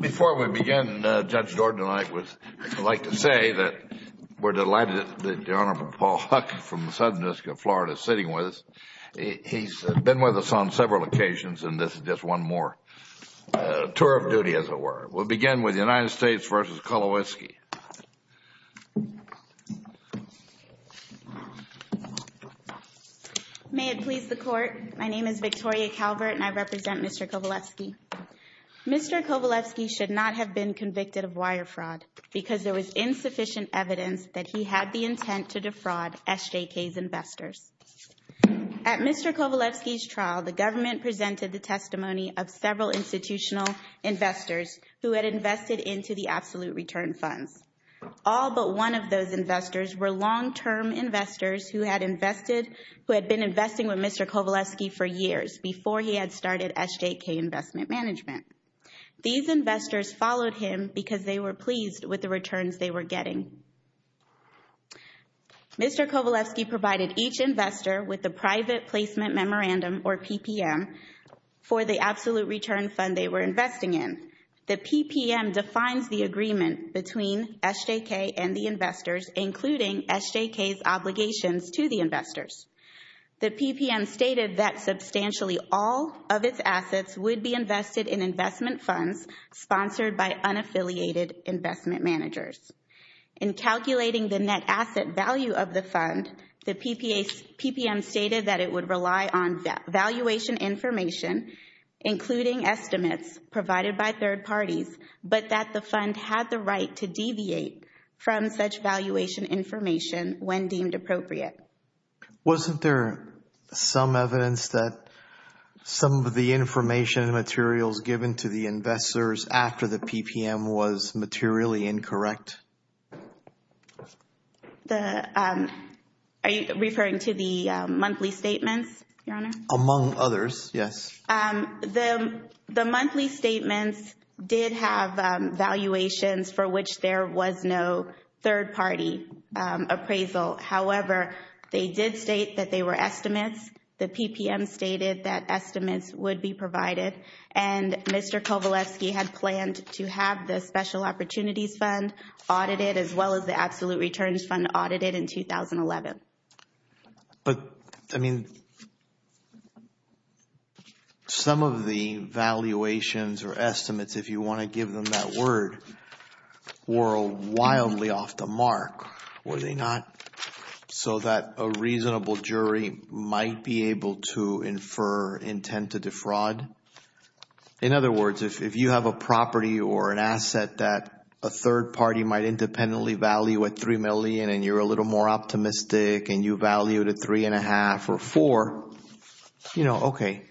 Before we begin, Judge Gordon and I would like to say that we're delighted that the Honorable Paul Huck from the Southern District of Florida is sitting with us. He's been with us on several occasions and this is just one more tour of duty as it were. We'll begin with the United States v. Kowalowski. Victoria Calvert May it please the Court, my name is Victoria Calvert and I represent Mr. Kowalowski. Mr. Kowalowski should not have been convicted of wire fraud because there was insufficient evidence that he had the intent to defraud SJK's investors. At Mr. Kowalowski's trial, the government presented the testimony of several institutional investors who had invested into the absolute return funds. All but one of those investors were long-term investors who had invested, who had been investing with Mr. Kowalowski for years before he had started SJK Investment Management. These investors followed him because they were pleased with the returns they were getting. Mr. Kowalowski provided each investor with a private placement memorandum or PPM for the absolute return fund they were investing in. The PPM defines the agreement between SJK and the investors, including SJK's obligations to the investors. The PPM stated that substantially all of its assets would be invested in investment funds sponsored by unaffiliated investment managers. In calculating the net asset value of the fund, the PPM stated that it would rely on valuation information, including estimates provided by third parties, but that the fund had the right to deviate from such valuation information when deemed appropriate. Wasn't there some evidence that some of the information and materials given to the investors after the PPM was materially incorrect? Are you referring to the monthly statements, Your Honor? Among others, yes. The monthly statements did have valuations for which there was no third-party appraisal. However, they did state that they were estimates. The PPM stated that estimates would be provided, and Mr. Kowalowski had planned to have the Special Opportunities Fund audited as well as the Absolute Returns Fund audited in 2011. But, I mean, some of the valuations or estimates, if you want to give them that word, were wildly off the mark, were they not? So that a reasonable jury might be able to infer intent to defraud. In other words, if you have a property or an asset that a third party might independently value at $3 million and you're a little more optimistic and you value it at $3.5 or $4, you know, okay,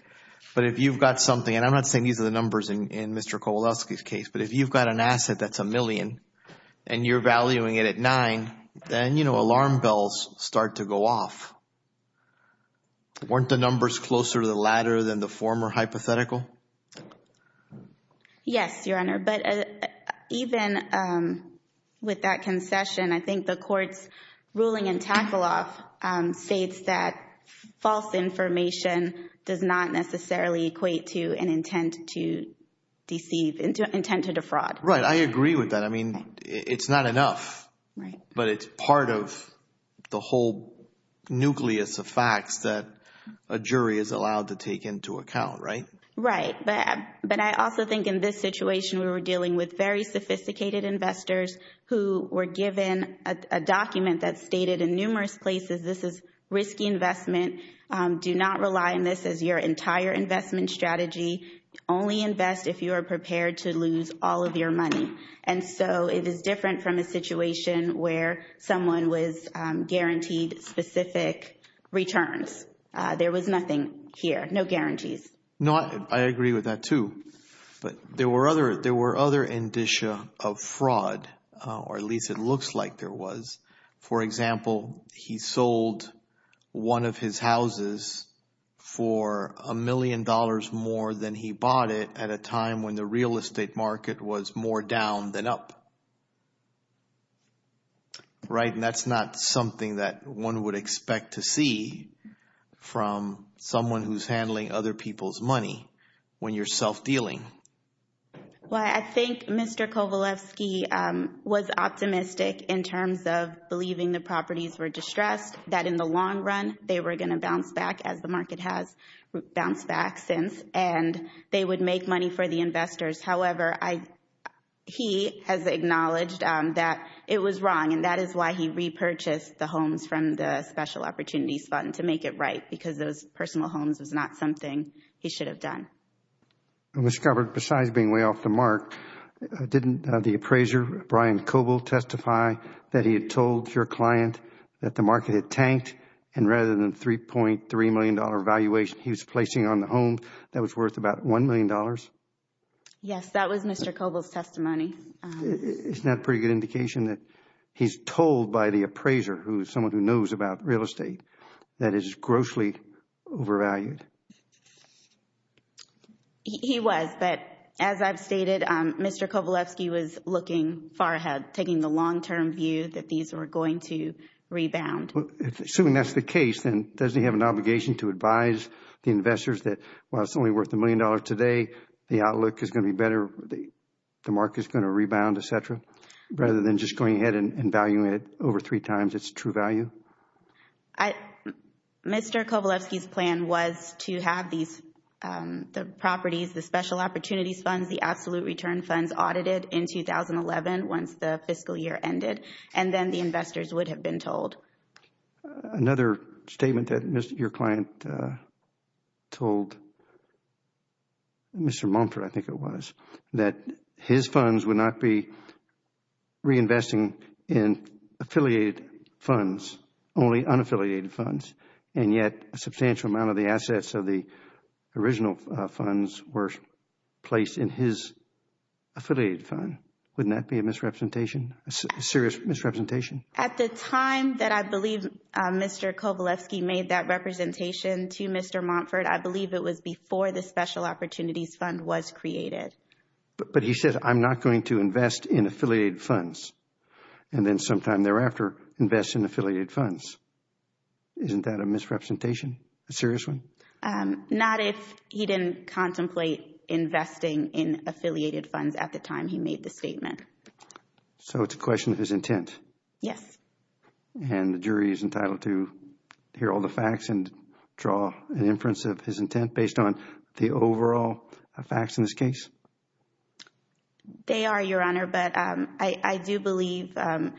but if you've got something, and I'm not saying these are the numbers in Mr. Kowalowski's case, but if you've got an asset that's a million and you're valuing it at $9, then, you know, alarm bells start to go off. Weren't the numbers closer to the latter than the former hypothetical? Yes, Your Honor, but even with that concession, I think the court's ruling in Tackle Off states that false information does not necessarily equate to an intent to deceive, intent to defraud. Right, I agree with that. I mean, it's not enough, but it's part of the whole nucleus of facts that a jury is allowed to take into account, right? Right, but I also think in this situation, we were dealing with very sophisticated investors who were given a document that stated in numerous places, this is risky investment. Do not rely on this as your entire investment strategy. Only invest if you are prepared to lose all of your money. And so it is different from a situation where someone was guaranteed specific returns. There was nothing here, no guarantees. No, I agree with that, too. But there were other indicia of fraud, or at least it looks like there was. For example, he sold one of his houses for a million dollars more than he bought it at a time when the real estate market was more down than up. Right, and that's not something that one would expect to see from someone who's handling other people's money when you're self-dealing. Well, I think Mr. Kovalevsky was optimistic in terms of believing the properties were distressed, that in the long run, they were going to bounce back as the market has bounced back since, and they would make money for the investors. However, he has acknowledged that it was wrong, and that is why he repurchased the homes from the Special Opportunities Fund, to make it right, because those personal homes was not something he should have done. Ms. Scarborough, besides being way off the mark, didn't the appraiser, Brian Koval, testify that he had told your client that the market had tanked, and rather than $3.3 million valuation he was placing on the home that was worth about $1 million? Yes, that was Mr. Koval's testimony. Isn't that a pretty good indication that he's told by the appraiser, who is someone who knows about real estate, that it is grossly overvalued? He was, but as I've stated, Mr. Kovalevsky was looking far ahead, taking the long-term view that these were going to rebound. Assuming that is the case, then doesn't he have an obligation to advise the investors that while it is only worth $1 million today, the outlook is going to be better, the market is going to rebound, et cetera, rather than just going ahead and valuing it over three times its true value? Mr. Kovalevsky's plan was to have the properties, the special opportunities funds, the absolute return funds audited in 2011 once the fiscal year ended, and then the investors would have been told. Another statement that your client told Mr. Mumford, I think it was, that his funds would not be reinvesting in affiliated funds, only unaffiliated funds, and yet a substantial amount of the assets of the original funds were placed in his affiliated fund. Wouldn't that be a misrepresentation, a serious misrepresentation? At the time that I believe Mr. Kovalevsky made that representation to Mr. Mumford, I believe it was before the special opportunities fund was created. But he said, I am not going to invest in affiliated funds, and then sometime thereafter invest in affiliated funds. Isn't that a misrepresentation, a serious one? Not if he didn't contemplate investing in affiliated funds at the time he made the statement. So it is a question of his intent? Yes. And the jury is entitled to hear all the facts and draw an inference of his intent based on the overall facts in this case? They are, Your Honor. But I do believe the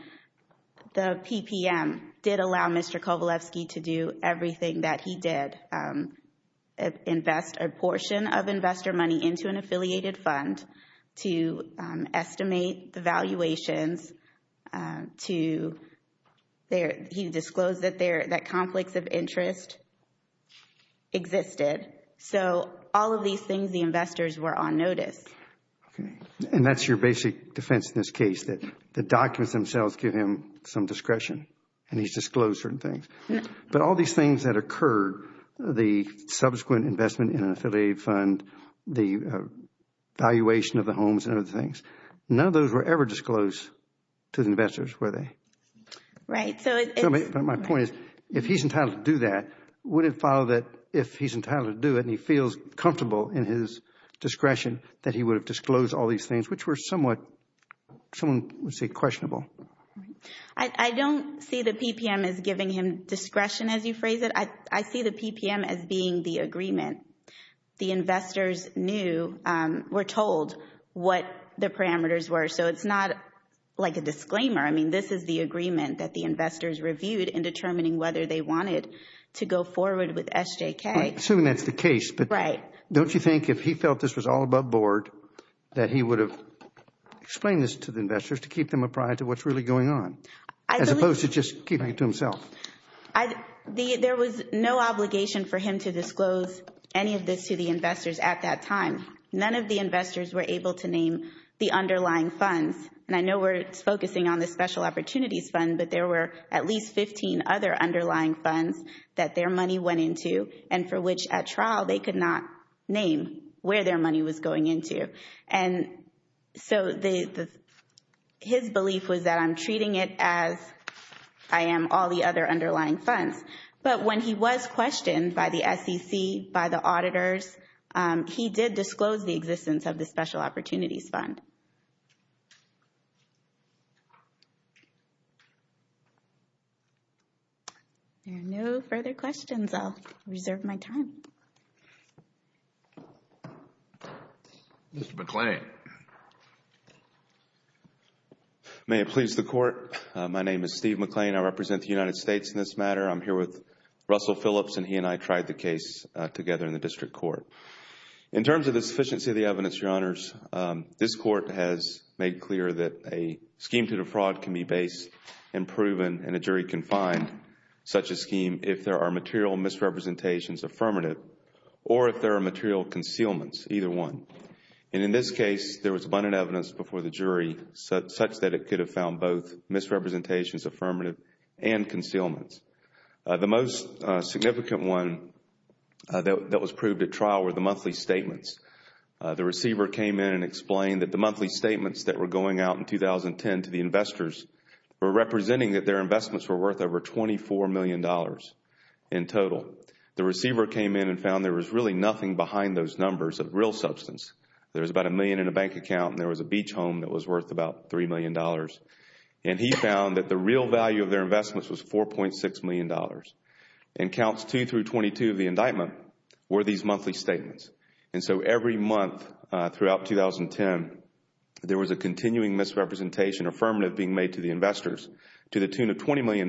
PPM did allow Mr. Kovalevsky to do everything that he did, invest a portion of investor money into an affiliated fund to estimate the valuations to, he disclosed that conflicts of interest existed. So all of these things, the investors were on notice. And that is your basic defense in this case, that the documents themselves give him some discretion and he has disclosed certain things. But all these things that occurred, the subsequent investment in an affiliated fund, the valuation of the homes and other things, none of those were ever disclosed to the investors, were they? Right. But my point is, if he is entitled to do that, would it follow that if he is entitled to do it and he feels comfortable in his discretion, that he would have disclosed all these things which were somewhat, someone would say questionable? I don't see the PPM as giving him discretion as you phrase it. I see the PPM as being the agreement. The investors knew, were told what the parameters were. So it is not like a disclaimer. I mean, this is the agreement that the investors reviewed in determining whether they wanted to go forward with SJK. Assuming that is the case, but don't you think if he felt this was all above board, that he would have explained this to the investors to keep them apprised of what is really going on, as opposed to just keeping it to himself? There was no obligation for him to disclose any of this to the investors at that time. None of the investors were able to name the underlying funds and I know we are focusing on the Special Opportunities Fund, but there were at least 15 other underlying funds that their money went into and for which at trial they could not name where their money was going into. And so his belief was that I am treating it as I am all the other underlying funds. But when he was questioned by the SEC, by the auditors, he did disclose the existence of the Special Opportunities Fund. There are no further questions. I will reserve my time. Mr. McClain. May it please the Court. My name is Steve McClain. I represent the United States in this matter. I am here with Russell Phillips and he and I tried the case together in the District Court. In terms of the sufficiency of the evidence, Your Honors, this Court has made clear that a scheme to defraud can be based and proven and a jury can find such a scheme if there are material misrepresentations affirmative or if there are material concealments, either one. And in this case, there was abundant evidence before the jury such that it could have found both misrepresentations affirmative and concealments. The most significant one that was proved at trial were the monthly statements. The receiver came in and explained that the monthly statements that were going out in 2010 to the investors were representing that their investments were worth over $24 million in total. The receiver came in and found there was really nothing behind those numbers of real substance. There was about a million in a bank account and there was a beach home that was worth about $3 million. And he found that the real value of their investments was $4.6 million. And counts 2 through 22 of the indictment were these monthly statements. And so every month throughout 2010, there was a continuing misrepresentation affirmative being made to the investors to the tune of $20 million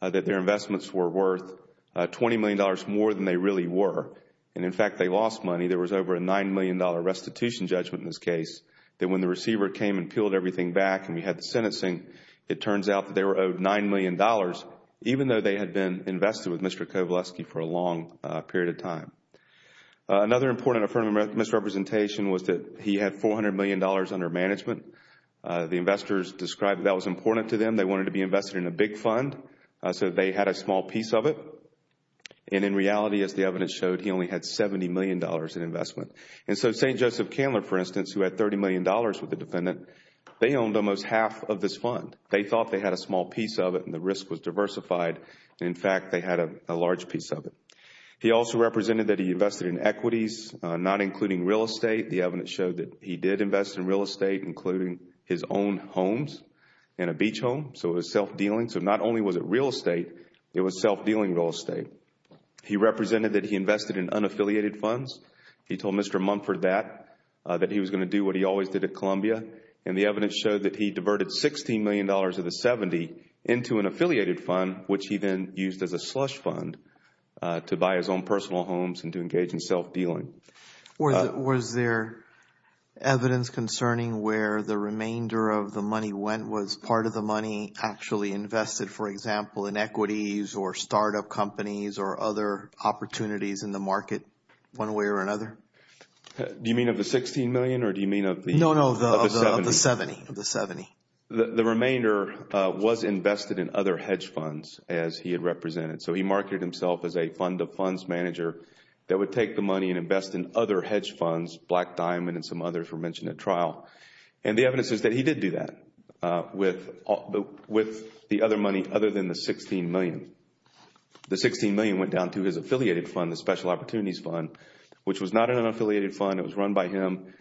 that their investments were worth $20 million more than they really were. And in fact, they lost money. There was over a $9 million restitution judgment in this case that when the receiver came and we had the sentencing, it turns out that they were owed $9 million even though they had been invested with Mr. Kowalewski for a long period of time. Another important affirmative misrepresentation was that he had $400 million under management. The investors described that was important to them. They wanted to be invested in a big fund, so they had a small piece of it. And in reality, as the evidence showed, he only had $70 million in investment. And so St. Joseph Candler, for instance, who had $30 million with the defendant, they owned almost half of this fund. They thought they had a small piece of it and the risk was diversified. In fact, they had a large piece of it. He also represented that he invested in equities, not including real estate. The evidence showed that he did invest in real estate, including his own homes and a beach home. So it was self-dealing. So not only was it real estate, it was self-dealing real estate. He represented that he invested in unaffiliated funds. He told Mr. Mumford that, that he was going to do what he always did at Columbia. And the evidence showed that he diverted $16 million of the $70 into an affiliated fund, which he then used as a slush fund to buy his own personal homes and to engage in self-dealing. Was there evidence concerning where the remainder of the money went? Was part of the money actually invested, for example, in equities or startup companies or other opportunities in the market one way or another? Do you mean of the $16 million or do you mean of the $70? Of the $70. Of the $70. The remainder was invested in other hedge funds as he had represented. So he marketed himself as a fund of funds manager that would take the money and invest in other hedge funds, Black Diamond and some others were mentioned at trial. And the evidence is that he did do that with the other money other than the $16 million. The $16 million went down to his affiliated fund, the Special Opportunities Fund, which was not an unaffiliated fund. It was run by him.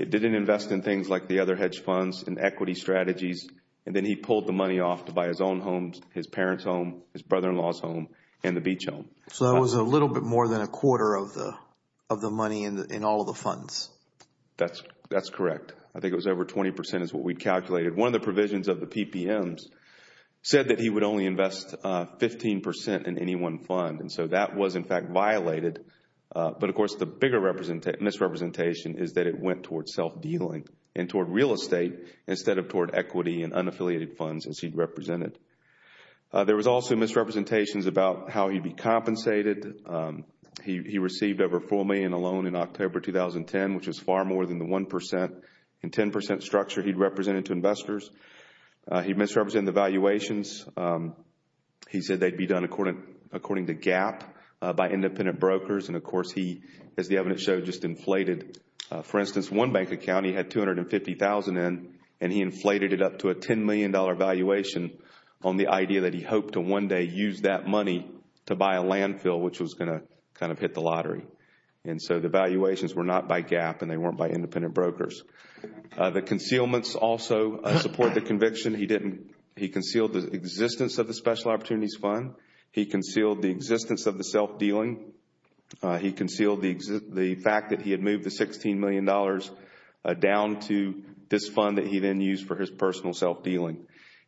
It didn't invest in things like the other hedge funds and equity strategies. And then he pulled the money off to buy his own homes, his parents' home, his brother-in-law's home and the beach home. So that was a little bit more than a quarter of the money in all of the funds? That's correct. I think it was over 20% is what we calculated. One of the provisions of the PPMs said that he would only invest 15% in any one fund. And so that was, in fact, violated. But of course, the bigger misrepresentation is that it went towards self-dealing and toward real estate instead of toward equity and unaffiliated funds as he represented. There was also misrepresentations about how he would be compensated. He received over $4 million alone in October 2010, which was far more than the 1% and 10% structure he represented to investors. He misrepresented the valuations. He said they'd be done according to GAAP by independent brokers. And of course, he, as the evidence showed, just inflated. For instance, one bank account he had $250,000 in and he inflated it up to a $10 million valuation on the idea that he hoped to one day use that money to buy a landfill, which was going to kind of hit the lottery. And so the valuations were not by GAAP and they weren't by independent brokers. The concealments also support the conviction. He concealed the existence of the Special Opportunities Fund. He concealed the existence of the self-dealing. He concealed the fact that he had moved the $16 million down to this fund that he then used for his personal self-dealing.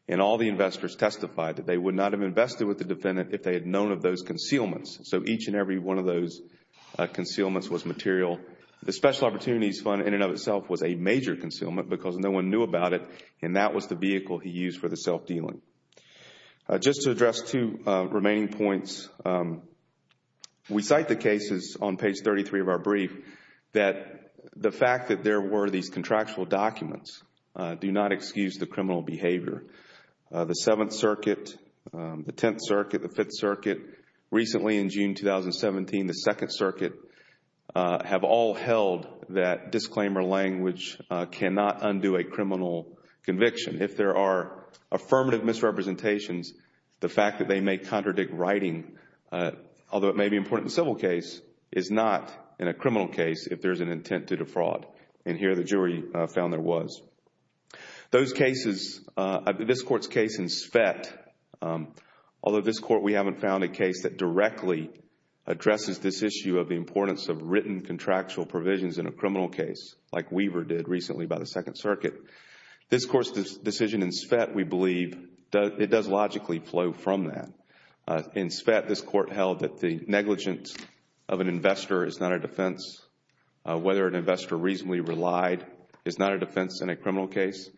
And all the investors testified that they would not have invested with the defendant if they had known of those concealments. So each and every one of those concealments was material. The Special Opportunities Fund in and of itself was a major concealment because no one knew about it and that was the vehicle he used for the self-dealing. Just to address two remaining points, we cite the cases on page 33 of our brief that the fact that there were these contractual documents do not excuse the criminal behavior. The Seventh Circuit, the Tenth Circuit, the Fifth Circuit, recently in June 2017, the conviction. If there are affirmative misrepresentations, the fact that they may contradict writing, although it may be important in a civil case, is not in a criminal case if there is an intent to defraud. And here the jury found there was. Those cases, this Court's case in Svett, although this Court, we haven't found a case that directly addresses this issue of the importance of written contractual provisions in a criminal case like Weaver did recently by the Second Circuit. This Court's decision in Svett, we believe, it does logically flow from that. In Svett, this Court held that the negligence of an investor is not a defense. Whether an investor reasonably relied is not a defense in a criminal case.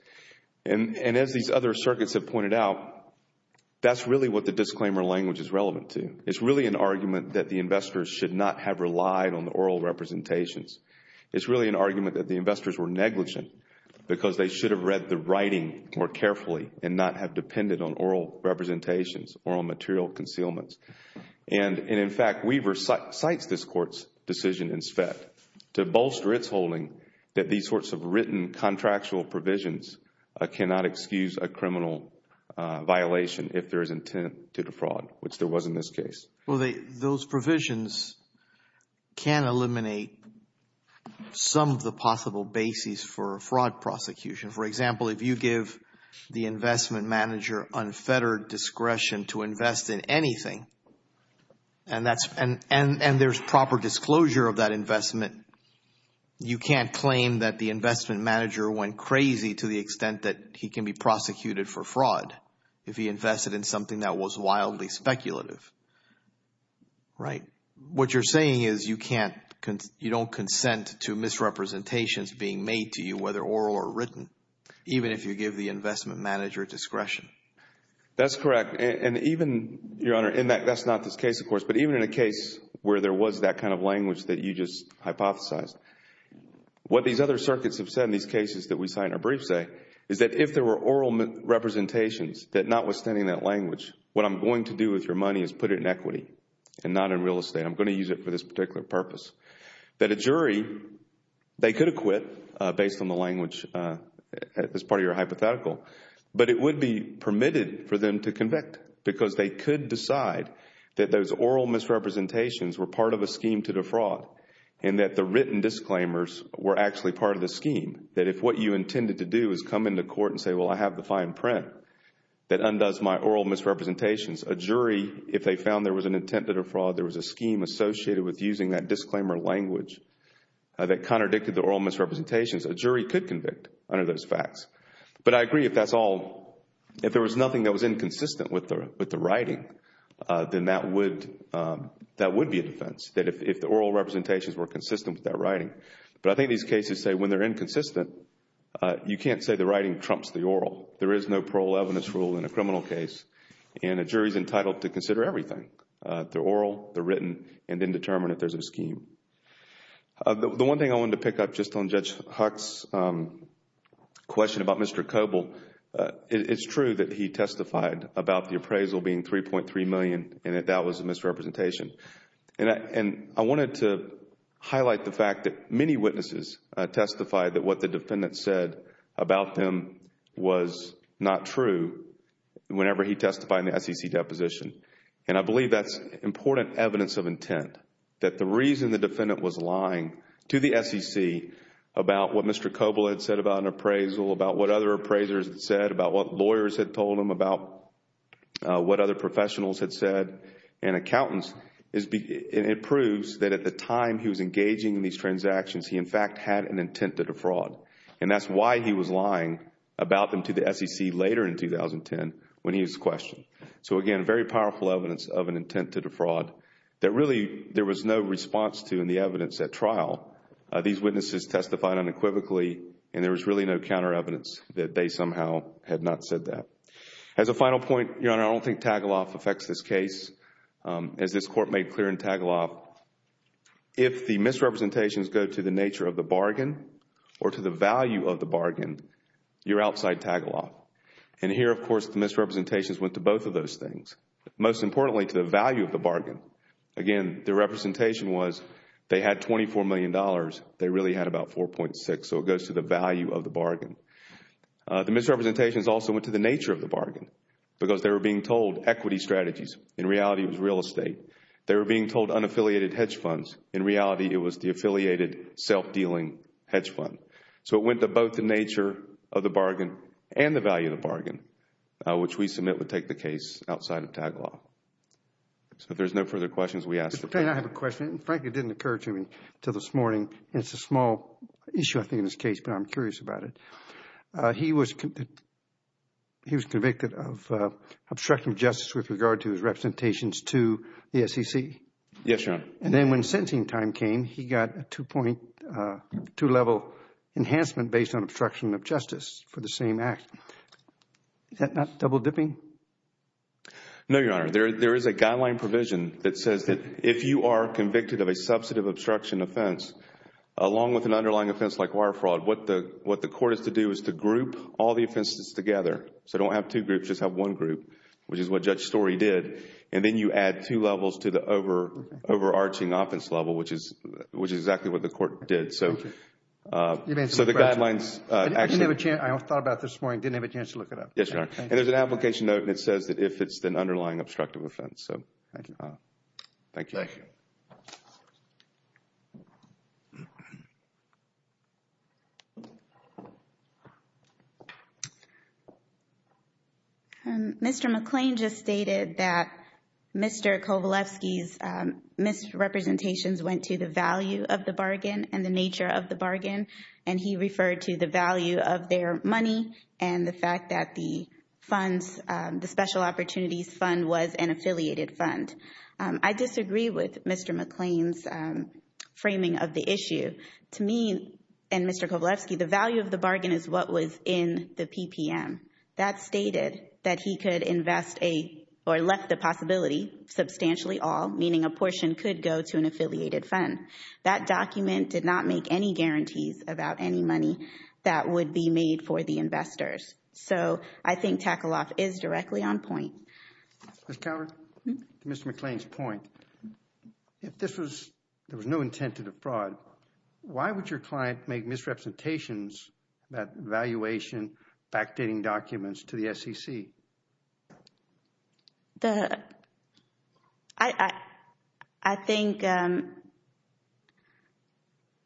And as these other circuits have pointed out, that's really what the disclaimer language is relevant to. It's really an argument that the investors should not have relied on the oral representations. It's really an argument that the investors were negligent because they should have read the writing more carefully and not have depended on oral representations or on material concealments. And in fact, Weaver cites this Court's decision in Svett to bolster its holding that these sorts of written contractual provisions cannot excuse a criminal violation if there is intent to defraud, which there was in this case. Well, those provisions can eliminate some of the possible bases for fraud prosecution. For example, if you give the investment manager unfettered discretion to invest in anything and there's proper disclosure of that investment, you can't claim that the investment manager went crazy to the extent that he can be prosecuted for fraud if he invested in something that was wildly speculative, right? What you're saying is you can't, you don't consent to misrepresentations being made to you whether oral or written, even if you give the investment manager discretion. That's correct. And even, Your Honor, in that, that's not this case, of course, but even in a case where there was that kind of language that you just hypothesized, what these other circuits have said in these cases that we cite in our brief say is that if there were oral representations that notwithstanding that language, what I'm going to do with your money is put it in equity and not in real estate. I'm going to use it for this particular purpose. That a jury, they could acquit based on the language that's part of your hypothetical, but it would be permitted for them to convict because they could decide that those oral misrepresentations were part of a scheme to defraud and that the written disclaimers were actually part of the scheme. That if what you intended to do is come into court and say, well, I have the fine print that undoes my oral misrepresentations, a jury, if they found there was an intent to defraud, there was a scheme associated with using that disclaimer language that contradicted the oral misrepresentations, a jury could convict under those facts. But I agree if that's all, if there was nothing that was inconsistent with the writing, then that would, that would be a defense, that if the oral representations were consistent with that writing. But I think these cases say when they're inconsistent, you can't say the writing trumps the oral. There is no parole evidence rule in a criminal case and a jury is entitled to consider everything. They're oral, they're written, and then determine if there's a scheme. The one thing I wanted to pick up just on Judge Huck's question about Mr. Coble, it's true that he testified about the appraisal being $3.3 million and that that was a misrepresentation. And I wanted to highlight the fact that many witnesses testified that what the defendant said about him was not true whenever he testified in the SEC deposition. And I believe that's important evidence of intent, that the reason the defendant was lying to the SEC about what Mr. Coble had said about an appraisal, about what other appraisers had said, about what lawyers had told him, about what other professionals had said, it proves that at the time he was engaging in these transactions, he in fact had an intent to defraud. And that's why he was lying about them to the SEC later in 2010 when he was questioned. So again, very powerful evidence of an intent to defraud that really there was no response to in the evidence at trial. These witnesses testified unequivocally and there was really no counter evidence that they somehow had not said that. As a final point, Your Honor, I don't think Tagaloff affects this case. As this Court made clear in Tagaloff, if the misrepresentations go to the nature of the bargain or to the value of the bargain, you're outside Tagaloff. And here, of course, the misrepresentations went to both of those things, most importantly to the value of the bargain. Again, the representation was they had $24 million, they really had about $4.6 million, so it goes to the value of the bargain. The misrepresentations also went to the nature of the bargain because they were being told equity strategies. In reality, it was real estate. They were being told unaffiliated hedge funds. In reality, it was the affiliated self-dealing hedge fund. So it went to both the nature of the bargain and the value of the bargain, which we submit would take the case outside of Tagaloff. So if there's no further questions, we ask the Court. Mr. Payne, I have a question. Frankly, it didn't occur to me until this morning and it's a small issue, I think, in this case, but I'm curious about it. He was convicted of obstruction of justice with regard to his representations to the SEC. Yes, Your Honor. And then when sentencing time came, he got a two-level enhancement based on obstruction of justice for the same act. Is that not double dipping? No, Your Honor. There is a guideline provision that says that if you are convicted of a substantive obstruction offense, along with an underlying offense like wire fraud, what the Court has to do is to group all the offenses together. So don't have two groups, just have one group, which is what Judge Story did. And then you add two levels to the overarching offense level, which is exactly what the Court So the guidelines actually... I didn't have a chance... I thought about this morning and didn't have a chance to look it up. Yes, Your Honor. And there's an application note that says that if it's an underlying obstructive offense. So thank you. Thank you. Thank you. Thank you. Thank you. Thank you. Thank you. Thank you. Thank you. Mr. McClain just stated that Mr. Kovalevsky's misrepresentations went to the value of the bargain and the nature of the bargain. And he referred to the value of their money and the fact that the funds, the special opportunities fund, was an affiliated fund. I disagree with Mr. McClain's framing of the issue. To me and Mr. Kovalevsky, the value of the bargain is what was in the PPM. That stated that he could invest a... or left the possibility, substantially all, meaning a portion could go to an affiliated fund. That document did not make any guarantees about any money that would be made for the investors. So I think Tackle-Off is directly on point. Ms. Coward? To Mr. McClain's point, if this was... there was no intent to defraud, why would your client make misrepresentations about valuation, fact-dating documents to the SEC? I think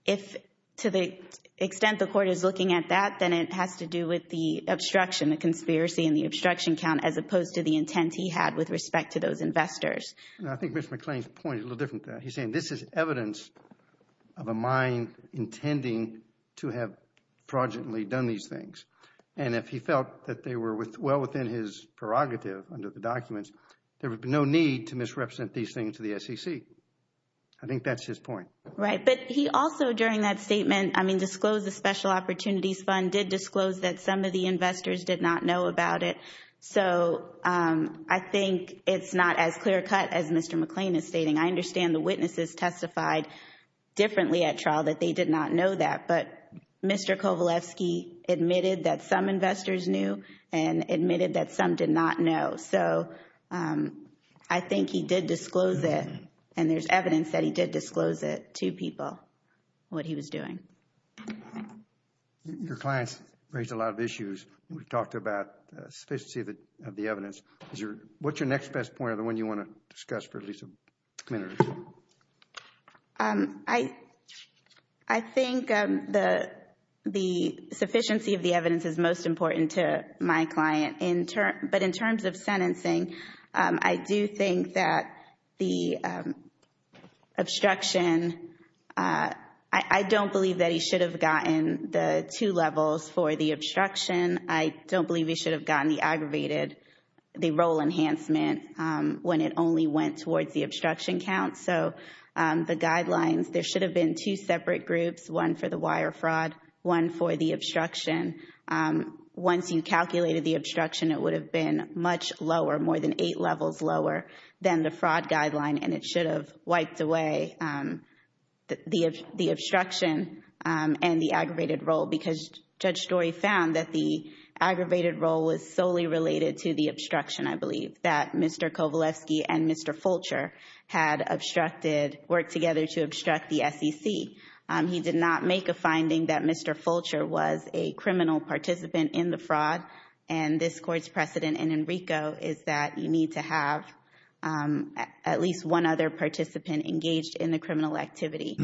if, to the extent the court is looking at that, then it has to do with the obstruction, the conspiracy and the obstruction count, as opposed to the intent he had with respect to those investors. I think Mr. McClain's point is a little different. He's saying this is evidence of a mind intending to have fraudulently done these things. And if he felt that they were well within his prerogative under the documents, there would be no need to misrepresent these things to the SEC. I think that's his point. Right. But he also, during that statement, I mean, disclosed the special opportunities fund, did disclose that some of the investors did not know about it. So, I think it's not as clear cut as Mr. McClain is stating. I understand the witnesses testified differently at trial that they did not know that. But Mr. Kovalevsky admitted that some investors knew and admitted that some did not know. So I think he did disclose it and there's evidence that he did disclose it to people, what he was doing. Your client's raised a lot of issues. We've talked about sufficiency of the evidence. What's your next best point or the one you want to discuss for at least a minute or two? I think the sufficiency of the evidence is most important to my client. But in terms of sentencing, I do think that the obstruction, I don't believe that he should have gotten the two levels for the obstruction. I don't believe he should have gotten the aggravated, the role enhancement when it only went towards the obstruction count. So the guidelines, there should have been two separate groups, one for the wire fraud, one for the obstruction. Once you calculated the obstruction, it would have been much lower, more than eight levels lower than the fraud guideline and it should have wiped away the obstruction and the aggravated role because Judge Story found that the aggravated role was solely related to the obstruction, I believe, that Mr. Kovalevsky and Mr. Fulcher had obstructed, worked together to obstruct the SEC. He did not make a finding that Mr. Fulcher was a criminal participant in the fraud and this Court's precedent in Enrico is that you need to have at least one other participant engaged in the criminal activity.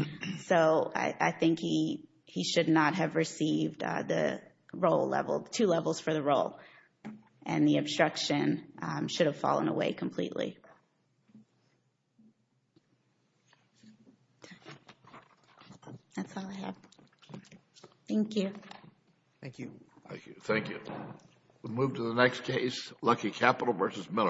So I think he should not have received the role level, the two levels for the role and the obstruction should have fallen away completely. That's all I have. Thank you. Thank you. Thank you. We'll move to the next case, Lucky Capital v. Miller.